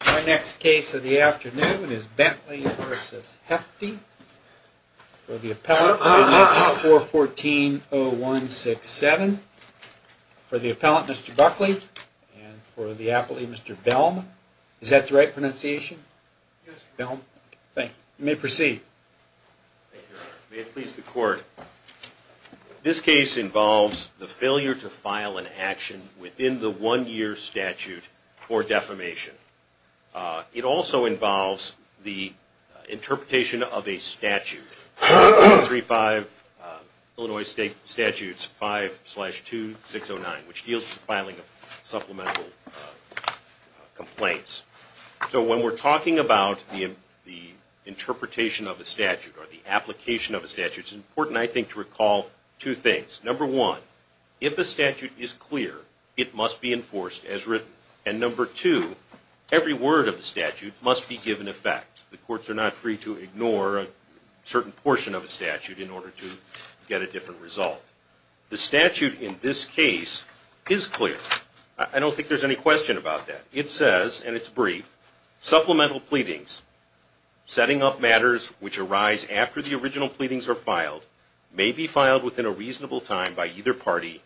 Our next case of the afternoon is Bentley v. Hefti for the appellant, witness 414-0167. For the appellant, Mr. Buckley, and for the appellant, Mr. Belm. Is that the right pronunciation? Yes. Belm. Thank you. You may proceed. Thank you, Your Honor. May it please the Court. This case involves the failure to file an action within the one-year statute for defamation. It also involves the interpretation of a statute, 1635 Illinois State Statutes 5-2609, which deals with the filing of supplemental complaints. So when we're talking about the interpretation of a statute or the application of a statute, it's important, I think, to recall two things. Number one, if the statute is clear, it must be enforced as written. And number two, every word of the statute must be given effect. The courts are not free to ignore a certain portion of a statute in order to get a different result. The statute in this case is clear. I don't think there's any question about that. It says, and it's brief, supplemental pleadings, setting up matters which arise after the original pleadings are filed, may be filed within a reasonable time by either party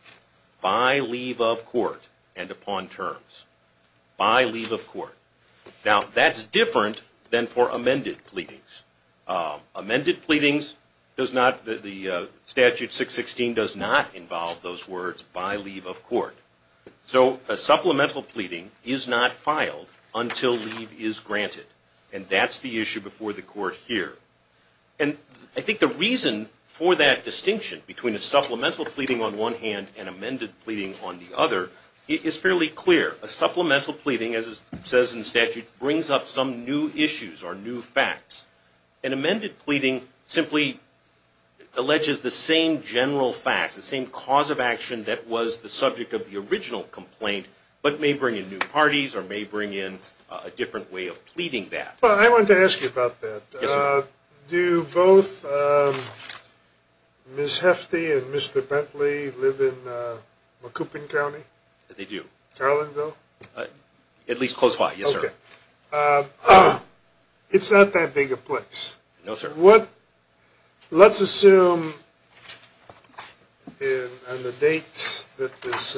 by leave of court and upon terms. By leave of court. Now, that's different than for amended pleadings. Amended pleadings, the Statute 616 does not involve those words by leave of court. So a supplemental pleading is not filed until leave is granted. And that's the issue before the court here. And I think the reason for that distinction between a supplemental pleading on one hand and amended pleading on the other is fairly clear. A supplemental pleading, as it says in the statute, brings up some new issues or new facts. An amended pleading simply alleges the same general facts, the same cause of action that was the subject of the original complaint, but may bring in new parties or may bring in a different way of pleading that. Well, I wanted to ask you about that. Do both Ms. Hefty and Mr. Bentley live in Macoupin County? They do. Carlinville? At least close by, yes, sir. Okay. It's not that big a place. Let's assume on the date that this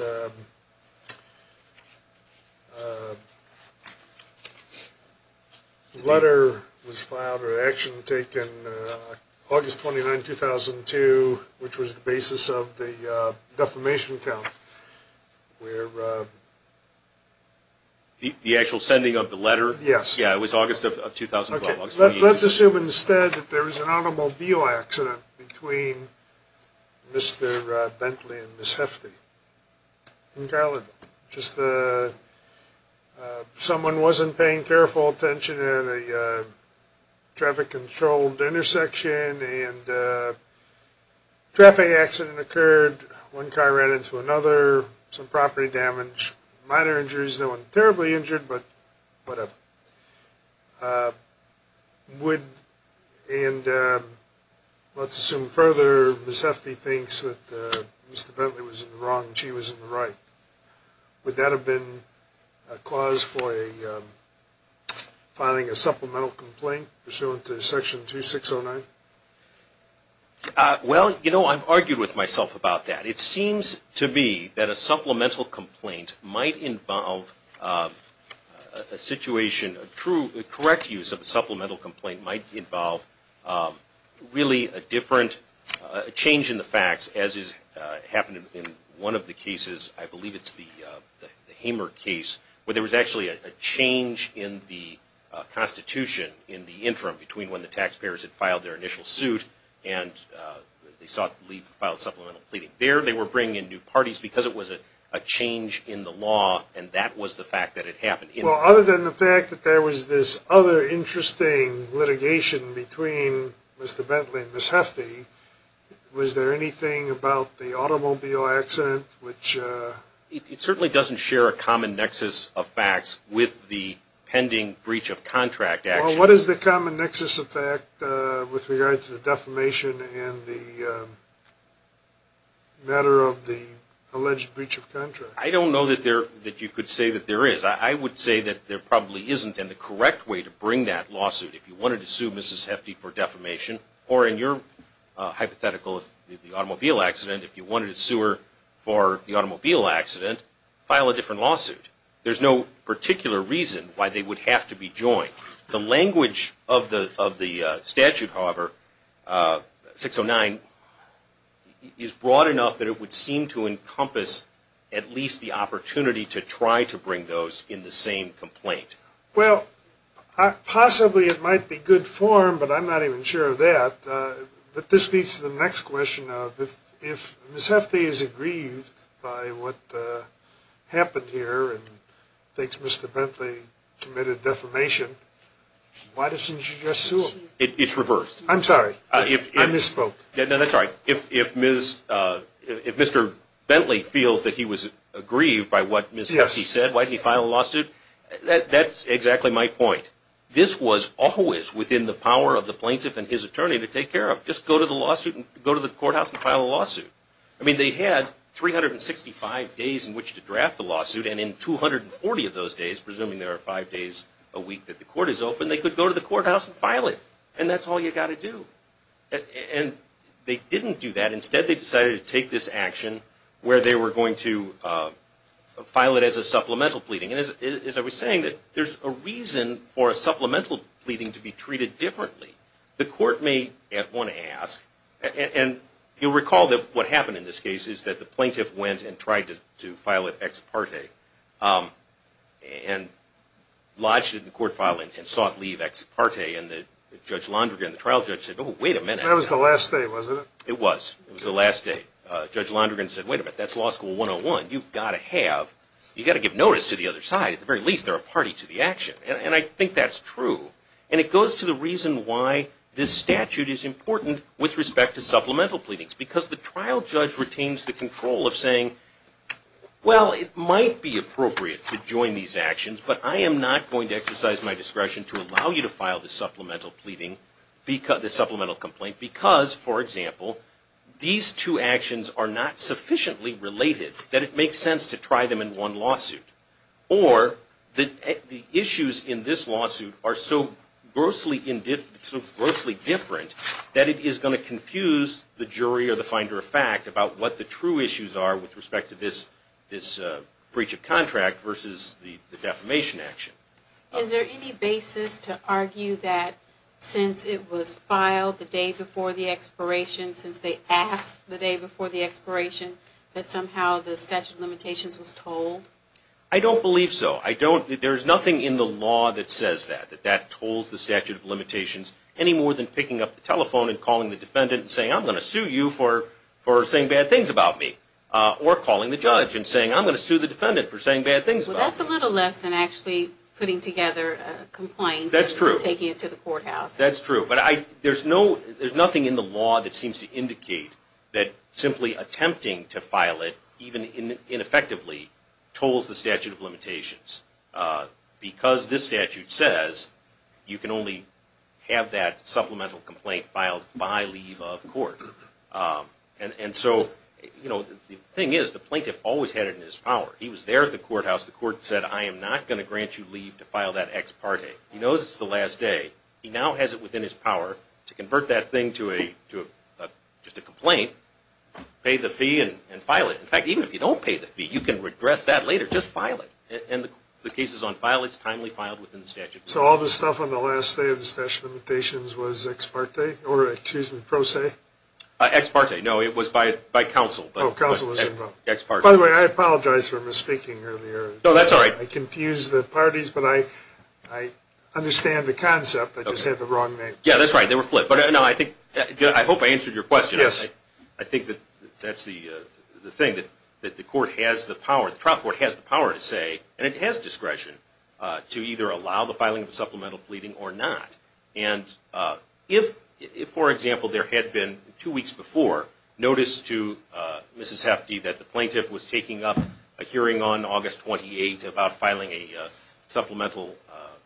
letter was filed or action taken, August 29, 2002, which was the basis of the defamation count. The actual sending of the letter? Yes. Yeah, it was August of 2012. Let's assume instead that there was an automobile accident between Mr. Bentley and Ms. Hefty in Carlinville. Just someone wasn't paying careful attention at a traffic-controlled intersection and a traffic accident occurred. One car ran into another, some property damage, minor injuries. There was no one terribly injured, but whatever. And let's assume further Ms. Hefty thinks that Mr. Bentley was in the wrong and she was in the right. Would that have been a clause for filing a supplemental complaint pursuant to Section 2609? Well, you know, I've argued with myself about that. It seems to me that a supplemental complaint might involve a situation, a correct use of a supplemental complaint might involve really a different change in the facts, as has happened in one of the cases, I believe it's the Hamer case, where there was actually a change in the Constitution in the interim between when the taxpayers had filed their initial suit and they sought to file a supplemental complaint. There they were bringing in new parties because it was a change in the law and that was the fact that it happened. Well, other than the fact that there was this other interesting litigation between Mr. Bentley and Ms. Hefty, was there anything about the automobile accident which... It certainly doesn't share a common nexus of facts with the pending breach of contract action. Well, what is the common nexus of fact with regard to the defamation and the matter of the alleged breach of contract? I don't know that you could say that there is. I would say that there probably isn't, and the correct way to bring that lawsuit, if you wanted to sue Mrs. Hefty for defamation, or in your hypothetical, the automobile accident, if you wanted to sue her for the automobile accident, file a different lawsuit. There's no particular reason why they would have to be joined. The language of the statute, however, 609, is broad enough that it would seem to encompass at least the opportunity to try to bring those in the same complaint. Well, possibly it might be good form, but I'm not even sure of that. But this leads to the next question of if Ms. Hefty is aggrieved by what happened here and thinks Mr. Bentley committed defamation, why doesn't she just sue him? It's reversed. I'm sorry. I misspoke. No, that's all right. If Mr. Bentley feels that he was aggrieved by what Ms. Hefty said, why didn't he file a lawsuit? That's exactly my point. This was always within the power of the plaintiff and his attorney to take care of. Just go to the lawsuit and go to the courthouse and file a lawsuit. I mean, they had 365 days in which to draft the lawsuit, and in 240 of those days, presuming there are five days a week that the court is open, they could go to the courthouse and file it. And that's all you've got to do. And they didn't do that. Instead, they decided to take this action where they were going to file it as a supplemental pleading. And as I was saying, there's a reason for a supplemental pleading to be treated differently. The court may at one ask, and you'll recall that what happened in this case is that the plaintiff went and tried to file it ex parte and lodged it in court filing and sought leave ex parte. And Judge Londrigan, the trial judge, said, oh, wait a minute. That was the last day, wasn't it? It was. It was the last day. Judge Londrigan said, wait a minute, that's law school 101. You've got to have, you've got to give notice to the other side. At the very least, they're a party to the action. And I think that's true. And it goes to the reason why this statute is important with respect to supplemental pleadings. Because the trial judge retains the control of saying, well, it might be appropriate to join these actions, but I am not going to exercise my discretion to allow you to file the supplemental pleading, the supplemental complaint, because, for example, these two actions are not sufficiently related that it makes sense to try them in one lawsuit. Or the issues in this lawsuit are so grossly different that it is going to confuse the jury or the finder of fact about what the true issues are with respect to this breach of contract versus the defamation action. Is there any basis to argue that since it was filed the day before the expiration, since they asked the day before the expiration, that somehow the statute of limitations was told? I don't believe so. I don't. There's nothing in the law that says that, that that told the statute of limitations any more than picking up the telephone and calling the defendant and saying, I'm going to sue you for saying bad things about me. Or calling the judge and saying, I'm going to sue the defendant for saying bad things about me. Well, that's a little less than actually putting together a complaint and taking it to the courthouse. That's true. But there's nothing in the law that seems to indicate that simply attempting to file it, even ineffectively, tolls the statute of limitations. Because this statute says you can only have that supplemental complaint filed by leave of court. And so the thing is, the plaintiff always had it in his power. He was there at the courthouse. The court said, I am not going to grant you leave to file that ex parte. He knows it's the last day. He now has it within his power to convert that thing to just a complaint, pay the fee, and file it. In fact, even if you don't pay the fee, you can regress that later. Just file it. And the cases on file, it's timely filed within the statute. So all this stuff on the last day of the statute of limitations was ex parte? Or excuse me, pro se? Ex parte. No, it was by counsel. Oh, counsel was involved. Ex parte. By the way, I apologize for misspeaking earlier. No, that's all right. I confused the parties, but I understand the concept. I just had the wrong name. Yeah, that's right. They were flipped. But I hope I answered your question. Yes. I think that that's the thing, that the court has the power, the trial court has the power to say, and it has discretion to either allow the filing of supplemental pleading or not. And if, for example, there had been two weeks before notice to Mrs. Hefty that the plaintiff was taking up a hearing on August 28 about filing a supplemental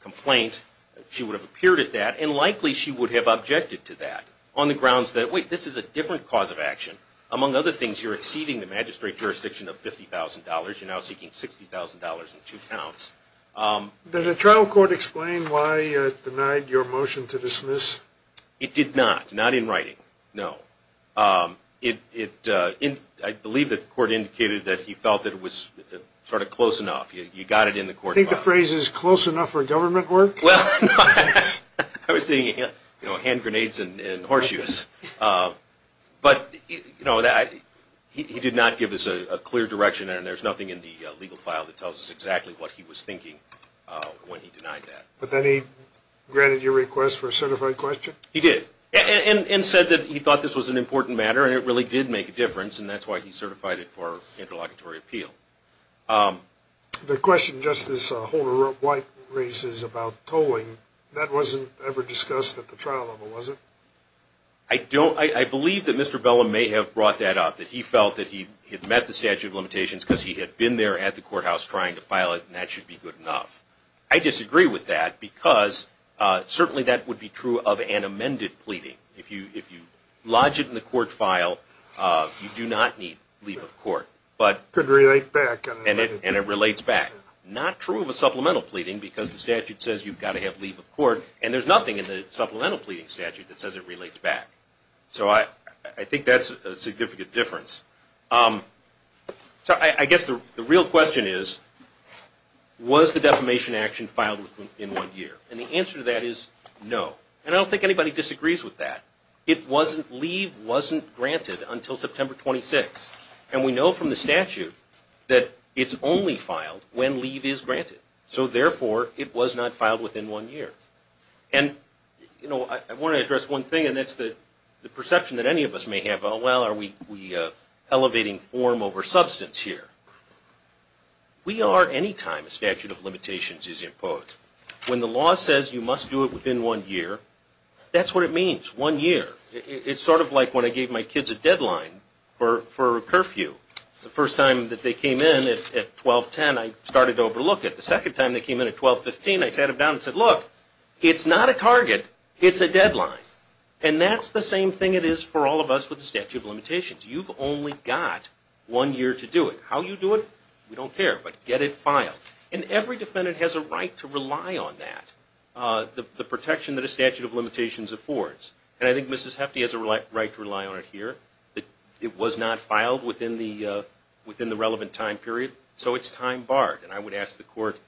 complaint, she would have appeared at that and likely she would have objected to that on the grounds that, wait, this is a different cause of action. Among other things, you're exceeding the magistrate jurisdiction of $50,000. You're now seeking $60,000 in two counts. Did the trial court explain why it denied your motion to dismiss? It did not, not in writing, no. I believe that the court indicated that he felt that it was sort of close enough. You got it in the court file. You think the phrase is close enough for government work? Well, no. I was thinking hand grenades and horseshoes. But he did not give us a clear direction, and there's nothing in the legal file that tells us exactly what he was thinking when he denied that. But then he granted your request for a certified question? He did. And said that he thought this was an important matter and it really did make a difference, and that's why he certified it for interlocutory appeal. The question Justice Holder-White raises about tolling, that wasn't ever discussed at the trial level, was it? I believe that Mr. Bellum may have brought that up, that he felt that he had met the statute of limitations because he had been there at the courthouse trying to file it, and that should be good enough. I disagree with that because certainly that would be true of an amended pleading. If you lodge it in the court file, you do not need leave of court. But it could relate back. And it relates back. Not true of a supplemental pleading because the statute says you've got to have leave of court, and there's nothing in the supplemental pleading statute that says it relates back. So I think that's a significant difference. So I guess the real question is, was the defamation action filed within one year? And the answer to that is no. And I don't think anybody disagrees with that. Leave wasn't granted until September 26. And we know from the statute that it's only filed when leave is granted. So therefore, it was not filed within one year. And I want to address one thing, and that's the perception that any of us may have. Well, are we elevating form over substance here? We are any time a statute of limitations is imposed. When the law says you must do it within one year, that's what it means, one year. It's sort of like when I gave my kids a deadline for a curfew. The first time that they came in at 12-10, I started to overlook it. The second time they came in at 12-15, I sat them down and said, look, it's not a target, it's a deadline. And that's the same thing it is for all of us with the statute of limitations. You've only got one year to do it. How you do it, we don't care, but get it filed. And every defendant has a right to rely on that, the protection that a statute of limitations affords. And I think Mrs. Hefti has a right to rely on it here. It was not filed within the relevant time period, so it's time barred. And I would ask the court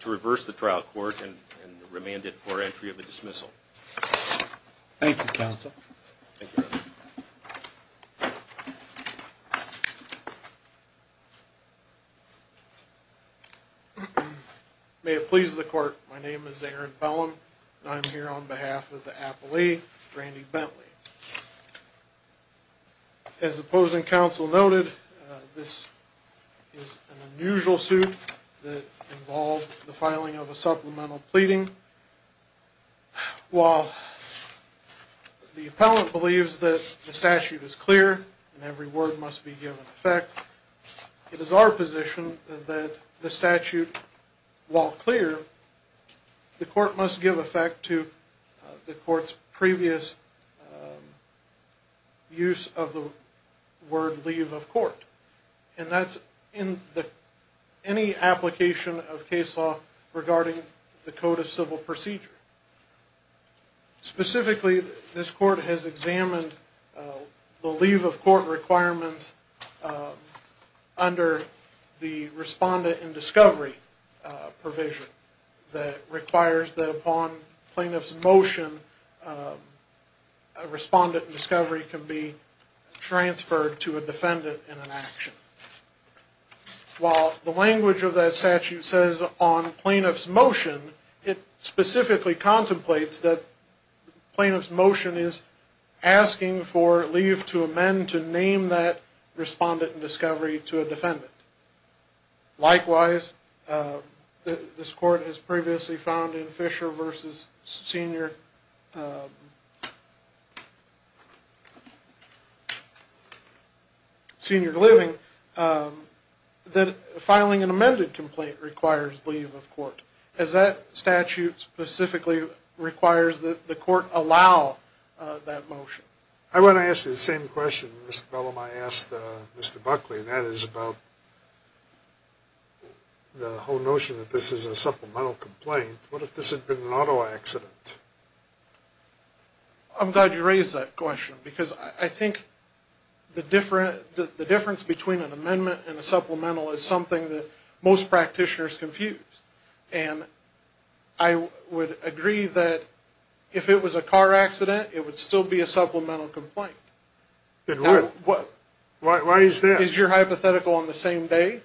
to reverse the trial court and remand it for entry of a dismissal. Thank you, counsel. May it please the court, my name is Aaron Bellum, and I'm here on behalf of the appellee, Randy Bentley. As the opposing counsel noted, this is an unusual suit that involves the filing of a supplemental pleading. While the appellant believes that the statute is clear and every word must be given effect, it is our position that the statute, while clear, the court must give effect to the court's previous use of the word leave of court. And that's in any application of case law regarding the Code of Civil Procedure. Specifically, this court has examined the leave of court requirements under the respondent in discovery provision that requires that upon plaintiff's motion, a respondent in discovery can be transferred to a defendant in an action. While the language of that statute says upon plaintiff's motion, it specifically contemplates that plaintiff's motion is asking for leave to amend to name that respondent in discovery to a defendant. Likewise, this court has previously found in Fisher v. Senior Living that filing an amended complaint requires leave of court. As that statute specifically requires that the court allow that motion. I want to ask you the same question Mr. Bellamy asked Mr. Buckley, and that is about the whole notion that this is a supplemental complaint. What if this had been an auto accident? I'm glad you raised that question because I think the difference between an amendment and a supplemental is something that most practitioners confuse. And I would agree that if it was a car accident, it would still be a supplemental complaint. Why is that? Is your hypothetical on the same day?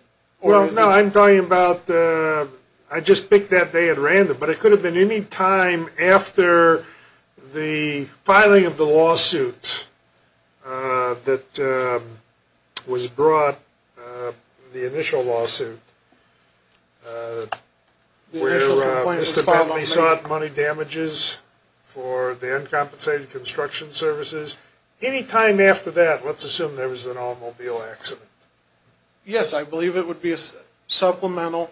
I'm talking about, I just picked that day at random. But it could have been any time after the filing of the lawsuit that was brought, the initial lawsuit, where Mr. Bellamy sought money damages for the uncompensated construction services. Any time after that, let's assume there was an automobile accident. Yes, I believe it would be a supplemental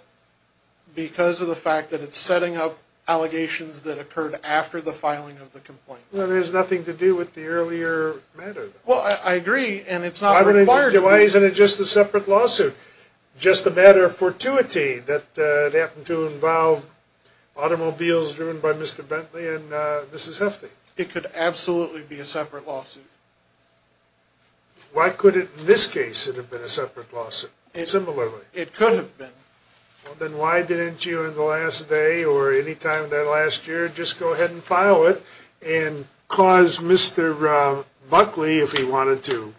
because of the fact that it's setting up allegations that occurred after the filing of the complaint. Well, it has nothing to do with the earlier matter. Well, I agree, and it's not required. Why isn't it just a separate lawsuit? Just a matter of fortuity that it happened to involve automobiles driven by Mr. Bentley and Mrs. Hefty. It could absolutely be a separate lawsuit. Why couldn't in this case it have been a separate lawsuit? Similarly. It could have been. Well, then why didn't you in the last day or any time that last year just go ahead and file it and cause Mr. Buckley, if he wanted to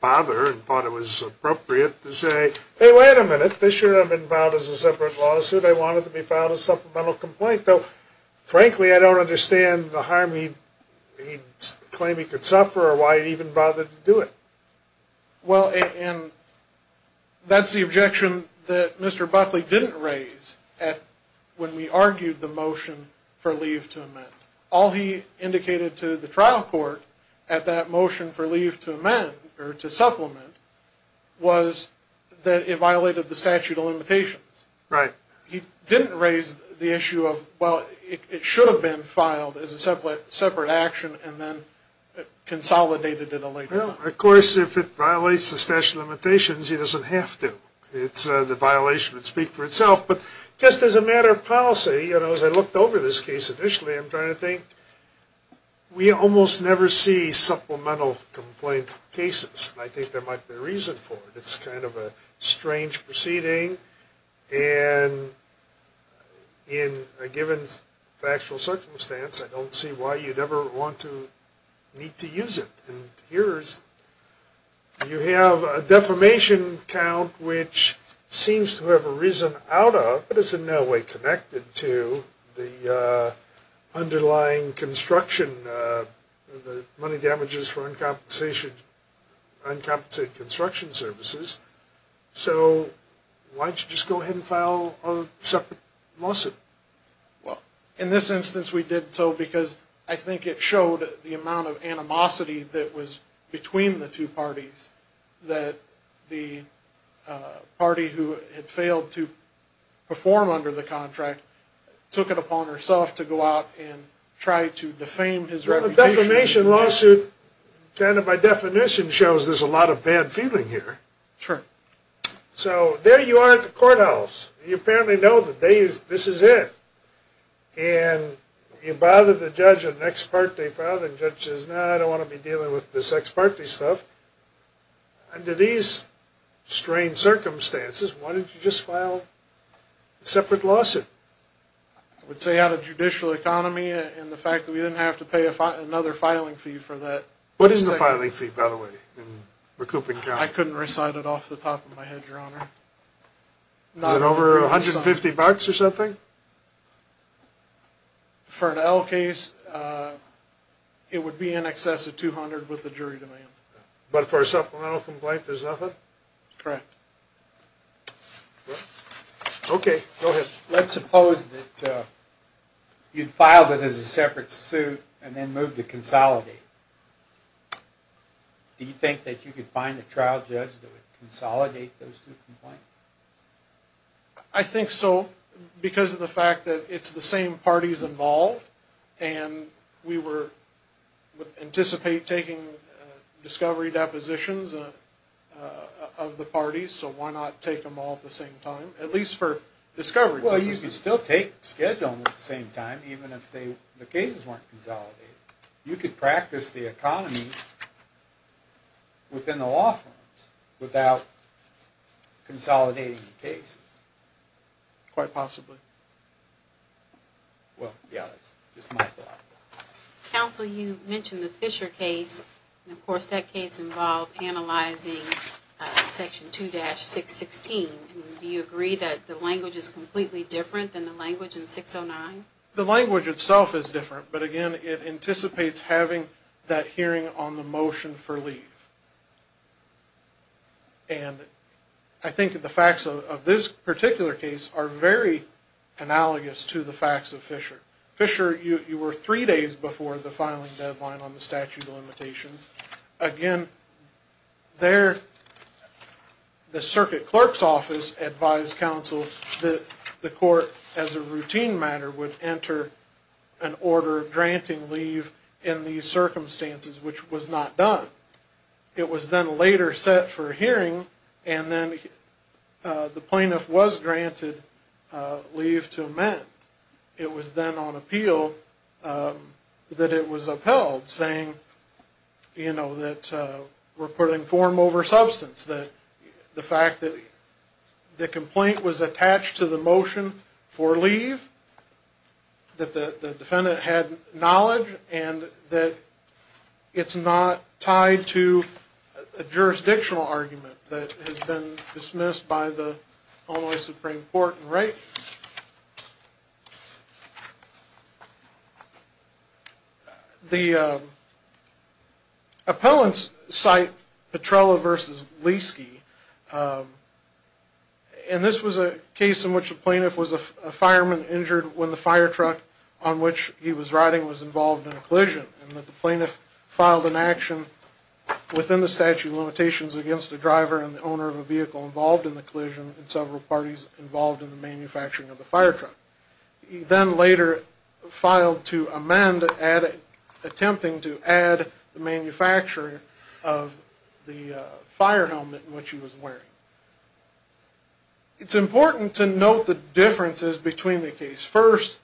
bother and thought it was appropriate, to say, hey, wait a minute, this should have been filed as a separate lawsuit. I want it to be filed as a supplemental complaint. Frankly, I don't understand the harm he claimed he could suffer or why he even bothered to do it. Well, and that's the objection that Mr. Buckley didn't raise when we argued the motion for leave to amend. All he indicated to the trial court at that motion for leave to amend or to supplement was that it violated the statute of limitations. Right. He didn't raise the issue of, well, it should have been filed as a separate action and then consolidated in a later time. Well, of course, if it violates the statute of limitations, it doesn't have to. The violation would speak for itself. But just as a matter of policy, you know, as I looked over this case initially, I'm trying to think we almost never see supplemental complaint cases. I think there might be a reason for it. It's kind of a strange proceeding. And in a given factual circumstance, I don't see why you'd ever want to need to use it. And here you have a defamation count which seems to have arisen out of, is in no way connected to the underlying construction, the money damages for uncompensated construction services. So why don't you just go ahead and file a separate lawsuit? Well, in this instance, we did so because I think it showed the amount of animosity that was between the two parties, that the party who had failed to perform under the contract took it upon herself to go out and try to defame his reputation. Well, a defamation lawsuit kind of by definition shows there's a lot of bad feeling here. Sure. So there you are at the courthouse. You apparently know that this is it. And you bother the judge on the next part they filed and the judge says, no, I don't want to be dealing with this ex parte stuff. Under these strange circumstances, why don't you just file a separate lawsuit? I would say out of judicial economy and the fact that we didn't have to pay another filing fee for that. What is the filing fee, by the way, in the recouping count? I couldn't recite it off the top of my head, Your Honor. Is it over $150 or something? For an L case, it would be in excess of $200 with the jury demand. But for a supplemental complaint, there's nothing? Correct. Okay, go ahead. Let's suppose that you'd filed it as a separate suit and then moved to consolidate. Do you think that you could find a trial judge that would consolidate those two complaints? I think so because of the fact that it's the same parties involved. And we would anticipate taking discovery depositions of the parties. So why not take them all at the same time? At least for discovery purposes. Well, you could still schedule them at the same time even if the cases weren't consolidated. You could practice the economies within the law firms without consolidating the cases. Quite possibly. Well, yeah, that's just my thought. Counsel, you mentioned the Fisher case. And, of course, that case involved analyzing Section 2-616. Do you agree that the language is completely different than the language in 609? The language itself is different. But, again, it anticipates having that hearing on the motion for leave. And I think the facts of this particular case are very analogous to the facts of Fisher. Fisher, you were three days before the filing deadline on the statute of limitations. Again, the circuit clerk's office advised counsel that the court, as a routine matter, would enter an order granting leave in these circumstances, which was not done. It was then later set for a hearing, and then the plaintiff was granted leave to amend. It was then on appeal that it was upheld, saying, you know, that we're putting form over substance, that the fact that the complaint was attached to the motion for leave, that the defendant had knowledge, and that it's not tied to a jurisdictional argument that has been dismissed by the Illinois Supreme Court in writing. The appellants cite Petrella v. Lieske. And this was a case in which the plaintiff was a fireman injured when the fire truck on which he was riding was involved in a collision, and that the plaintiff filed an action within the statute of limitations against the driver and the owner of the vehicle involved in the collision and several parties involved in the manufacturing of the fire truck. He then later filed to amend, attempting to add the manufacturing of the fire helmet in which he was wearing. It's important to note the differences between the case. First,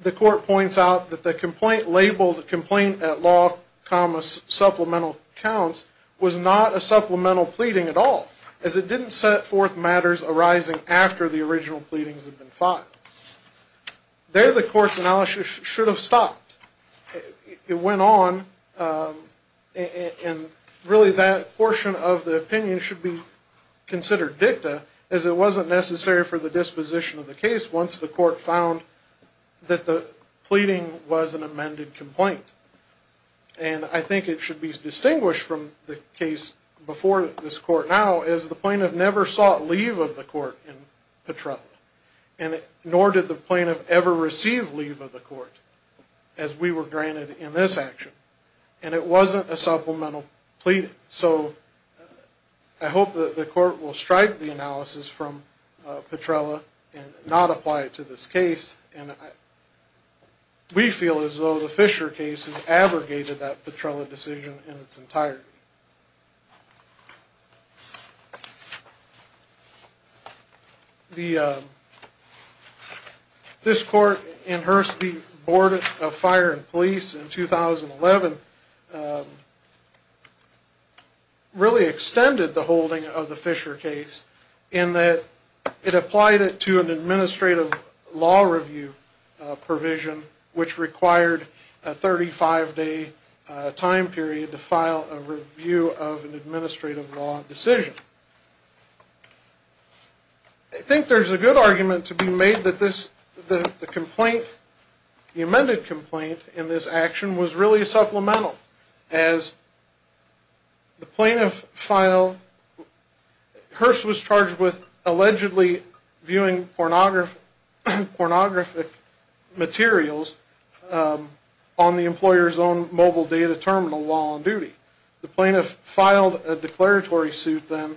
the court points out that the complaint labeled complaint at law, comma, supplemental counts was not a supplemental pleading at all, as it didn't set forth matters arising after the original pleadings had been filed. There the court's analysis should have stopped. It went on, and really that portion of the opinion should be considered dicta, as it wasn't necessary for the disposition of the case once the court found that the pleading was an amended complaint. And I think it should be distinguished from the case before this court now, as the plaintiff never sought leave of the court in Petrella. And nor did the plaintiff ever receive leave of the court, as we were granted in this action. And it wasn't a supplemental pleading. So I hope that the court will strike the analysis from Petrella and not apply it to this case. We feel as though the Fisher case has abrogated that Petrella decision in its entirety. This court in Hearst v. Board of Fire and Police in 2011 really extended the holding of the Fisher case, in that it applied it to an administrative law review provision, which required a 35-day time period to file a review of an administrative law decision. I think there's a good argument to be made that the amended complaint in this action was really supplemental, as the plaintiff filed... Hearst was charged with allegedly viewing pornographic materials on the employer's own mobile data terminal while on duty. The plaintiff filed a declaratory suit then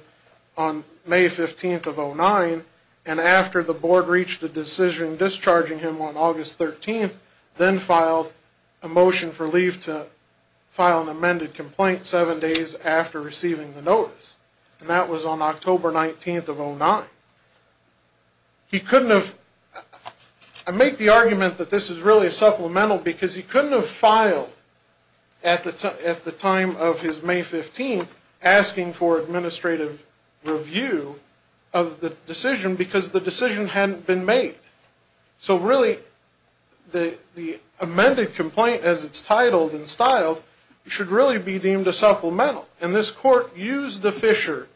on May 15th of 2009, and after the board reached a decision discharging him on August 13th, then filed a motion for leave to file an amended complaint seven days after receiving the notice. And that was on October 19th of 2009. He couldn't have... I make the argument that this is really supplemental because he couldn't have filed at the time of his May 15th asking for administrative review of the decision because the decision hadn't been made. So really, the amended complaint as it's titled and styled should really be deemed a supplemental. And this court used the Fisher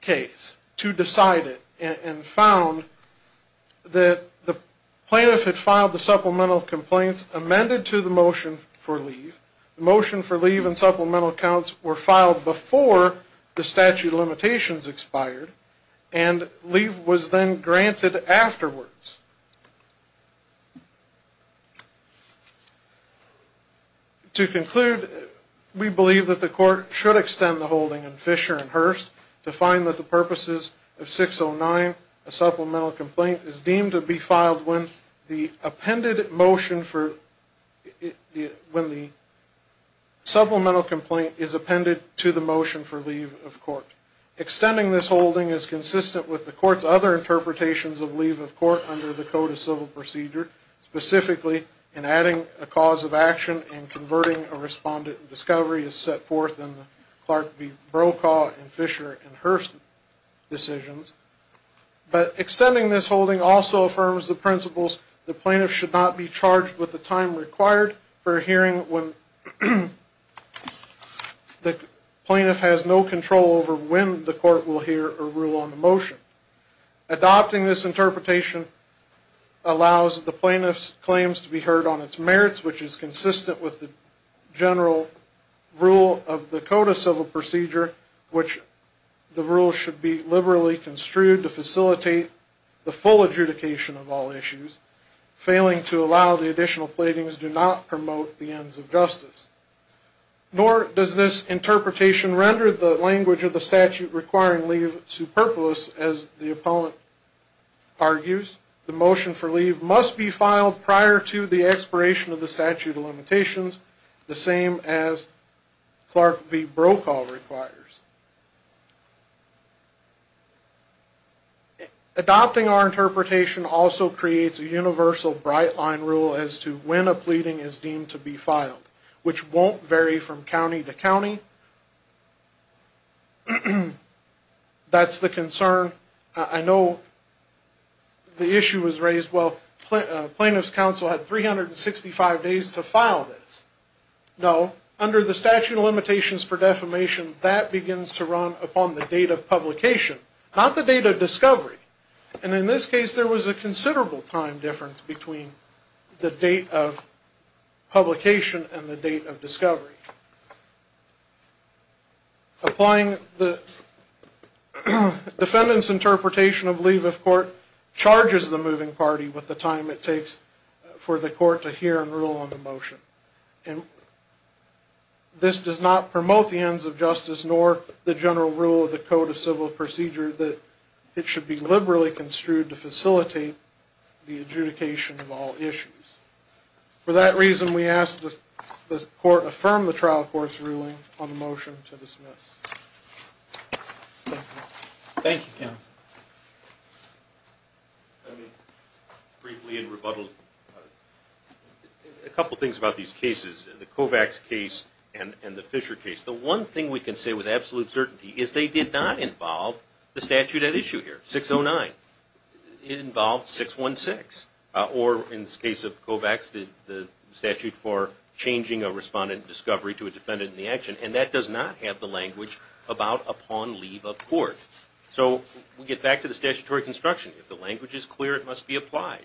case to decide it and found that the plaintiff had filed the supplemental complaints amended to the motion for leave. The motion for leave and supplemental counts were filed before the statute of limitations expired, and leave was then granted afterwards. To conclude, we believe that the court should extend the holding in Fisher and Hearst to find that the purposes of 609, a supplemental complaint, is deemed to be filed when the appended motion for... when the supplemental complaint is appended to the motion for leave of court. Extending this holding is consistent with the court's other interpretations of leave of court under the Code of Civil Procedure, specifically in adding a cause of action and converting a respondent discovery as set forth in the Clark v. Brokaw and Fisher and Hearst decisions. But extending this holding also affirms the principles the plaintiff should not be charged with the time required for a hearing when the plaintiff has no control over when the court will hear a rule on the motion. Adopting this interpretation allows the plaintiff's claims to be heard on its merits, which is consistent with the general rule of the Code of Civil Procedure, which the rule should be liberally construed to facilitate the full adjudication of all issues, failing to allow the additional platings do not promote the ends of justice. Nor does this interpretation render the language of the statute requiring leave superfluous, as the opponent argues. The motion for leave must be filed prior to the expiration of the statute of limitations, the same as Clark v. Brokaw requires. Adopting our interpretation also creates a universal bright-line rule as to when a pleading is deemed to be filed, which won't vary from county to county. That's the concern. I know the issue was raised, well, plaintiff's counsel had 365 days to file this. No, under the statute of limitations for defamation, that begins to run upon the date of publication, not the date of discovery. And in this case, there was a considerable time difference between the date of publication and the date of discovery. Applying the defendant's interpretation of leave of court charges the moving party with the time it takes for the court to hear and rule on the motion. This does not promote the ends of justice, nor the general rule of the Code of Civil Procedure that it should be liberally construed to facilitate the adjudication of all issues. For that reason, we ask that the court affirm the trial court's ruling on the motion to dismiss. Thank you, counsel. I mean, briefly in rebuttal, a couple things about these cases, the Kovacs case and the Fisher case. The one thing we can say with absolute certainty is they did not involve the statute at issue here, 609. It involved 616, or in the case of Kovacs, the statute for changing a respondent discovery to a defendant in the action, and that does not have the language about upon leave of court. So we get back to the statutory construction. If the language is clear, it must be applied,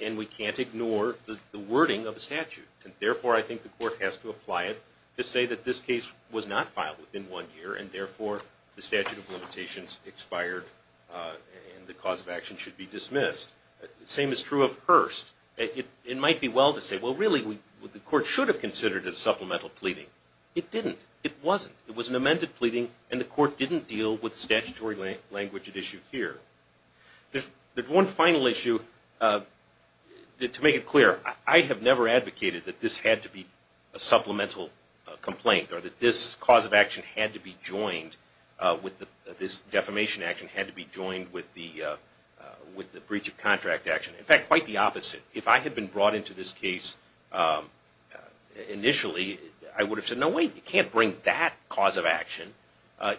and we can't ignore the wording of the statute, and therefore I think the court has to apply it to say that this case was not filed within one year and therefore the statute of limitations expired and the cause of action should be dismissed. The same is true of Hearst. It might be well to say, well, really, the court should have considered it a supplemental pleading. It didn't. It wasn't. It was an amended pleading, and the court didn't deal with statutory language at issue here. There's one final issue. To make it clear, I have never advocated that this had to be a supplemental complaint or that this cause of action had to be joined with this defamation action had to be joined with the breach of contract action. In fact, quite the opposite. If I had been brought into this case initially, I would have said, no, wait, you can't bring that cause of action.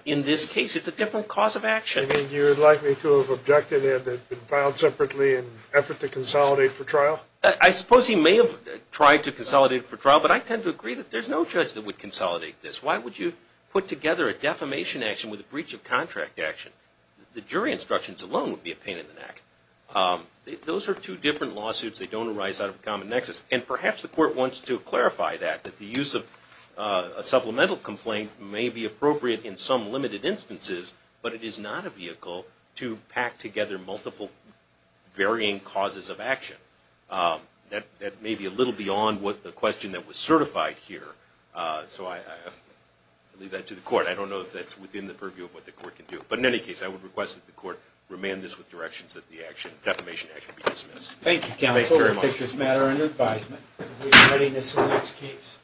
In this case, it's a different cause of action. You mean you're likely to have objected to it being filed separately in an effort to consolidate for trial? I suppose he may have tried to consolidate for trial, but I tend to agree that there's no judge that would consolidate this. Why would you put together a defamation action with a breach of contract action? The jury instructions alone would be a pain in the neck. Those are two different lawsuits. They don't arise out of a common nexus, and perhaps the court wants to clarify that, that the use of a supplemental complaint may be appropriate in some limited instances, but it is not a vehicle to pack together multiple varying causes of action. That may be a little beyond the question that was certified here, so I leave that to the court. I don't know if that's within the purview of what the court can do, but in any case, I would request that the court remand this with directions that the defamation action be dismissed. Thank you, counsel, for taking this matter into advisement. We are ready for the next case.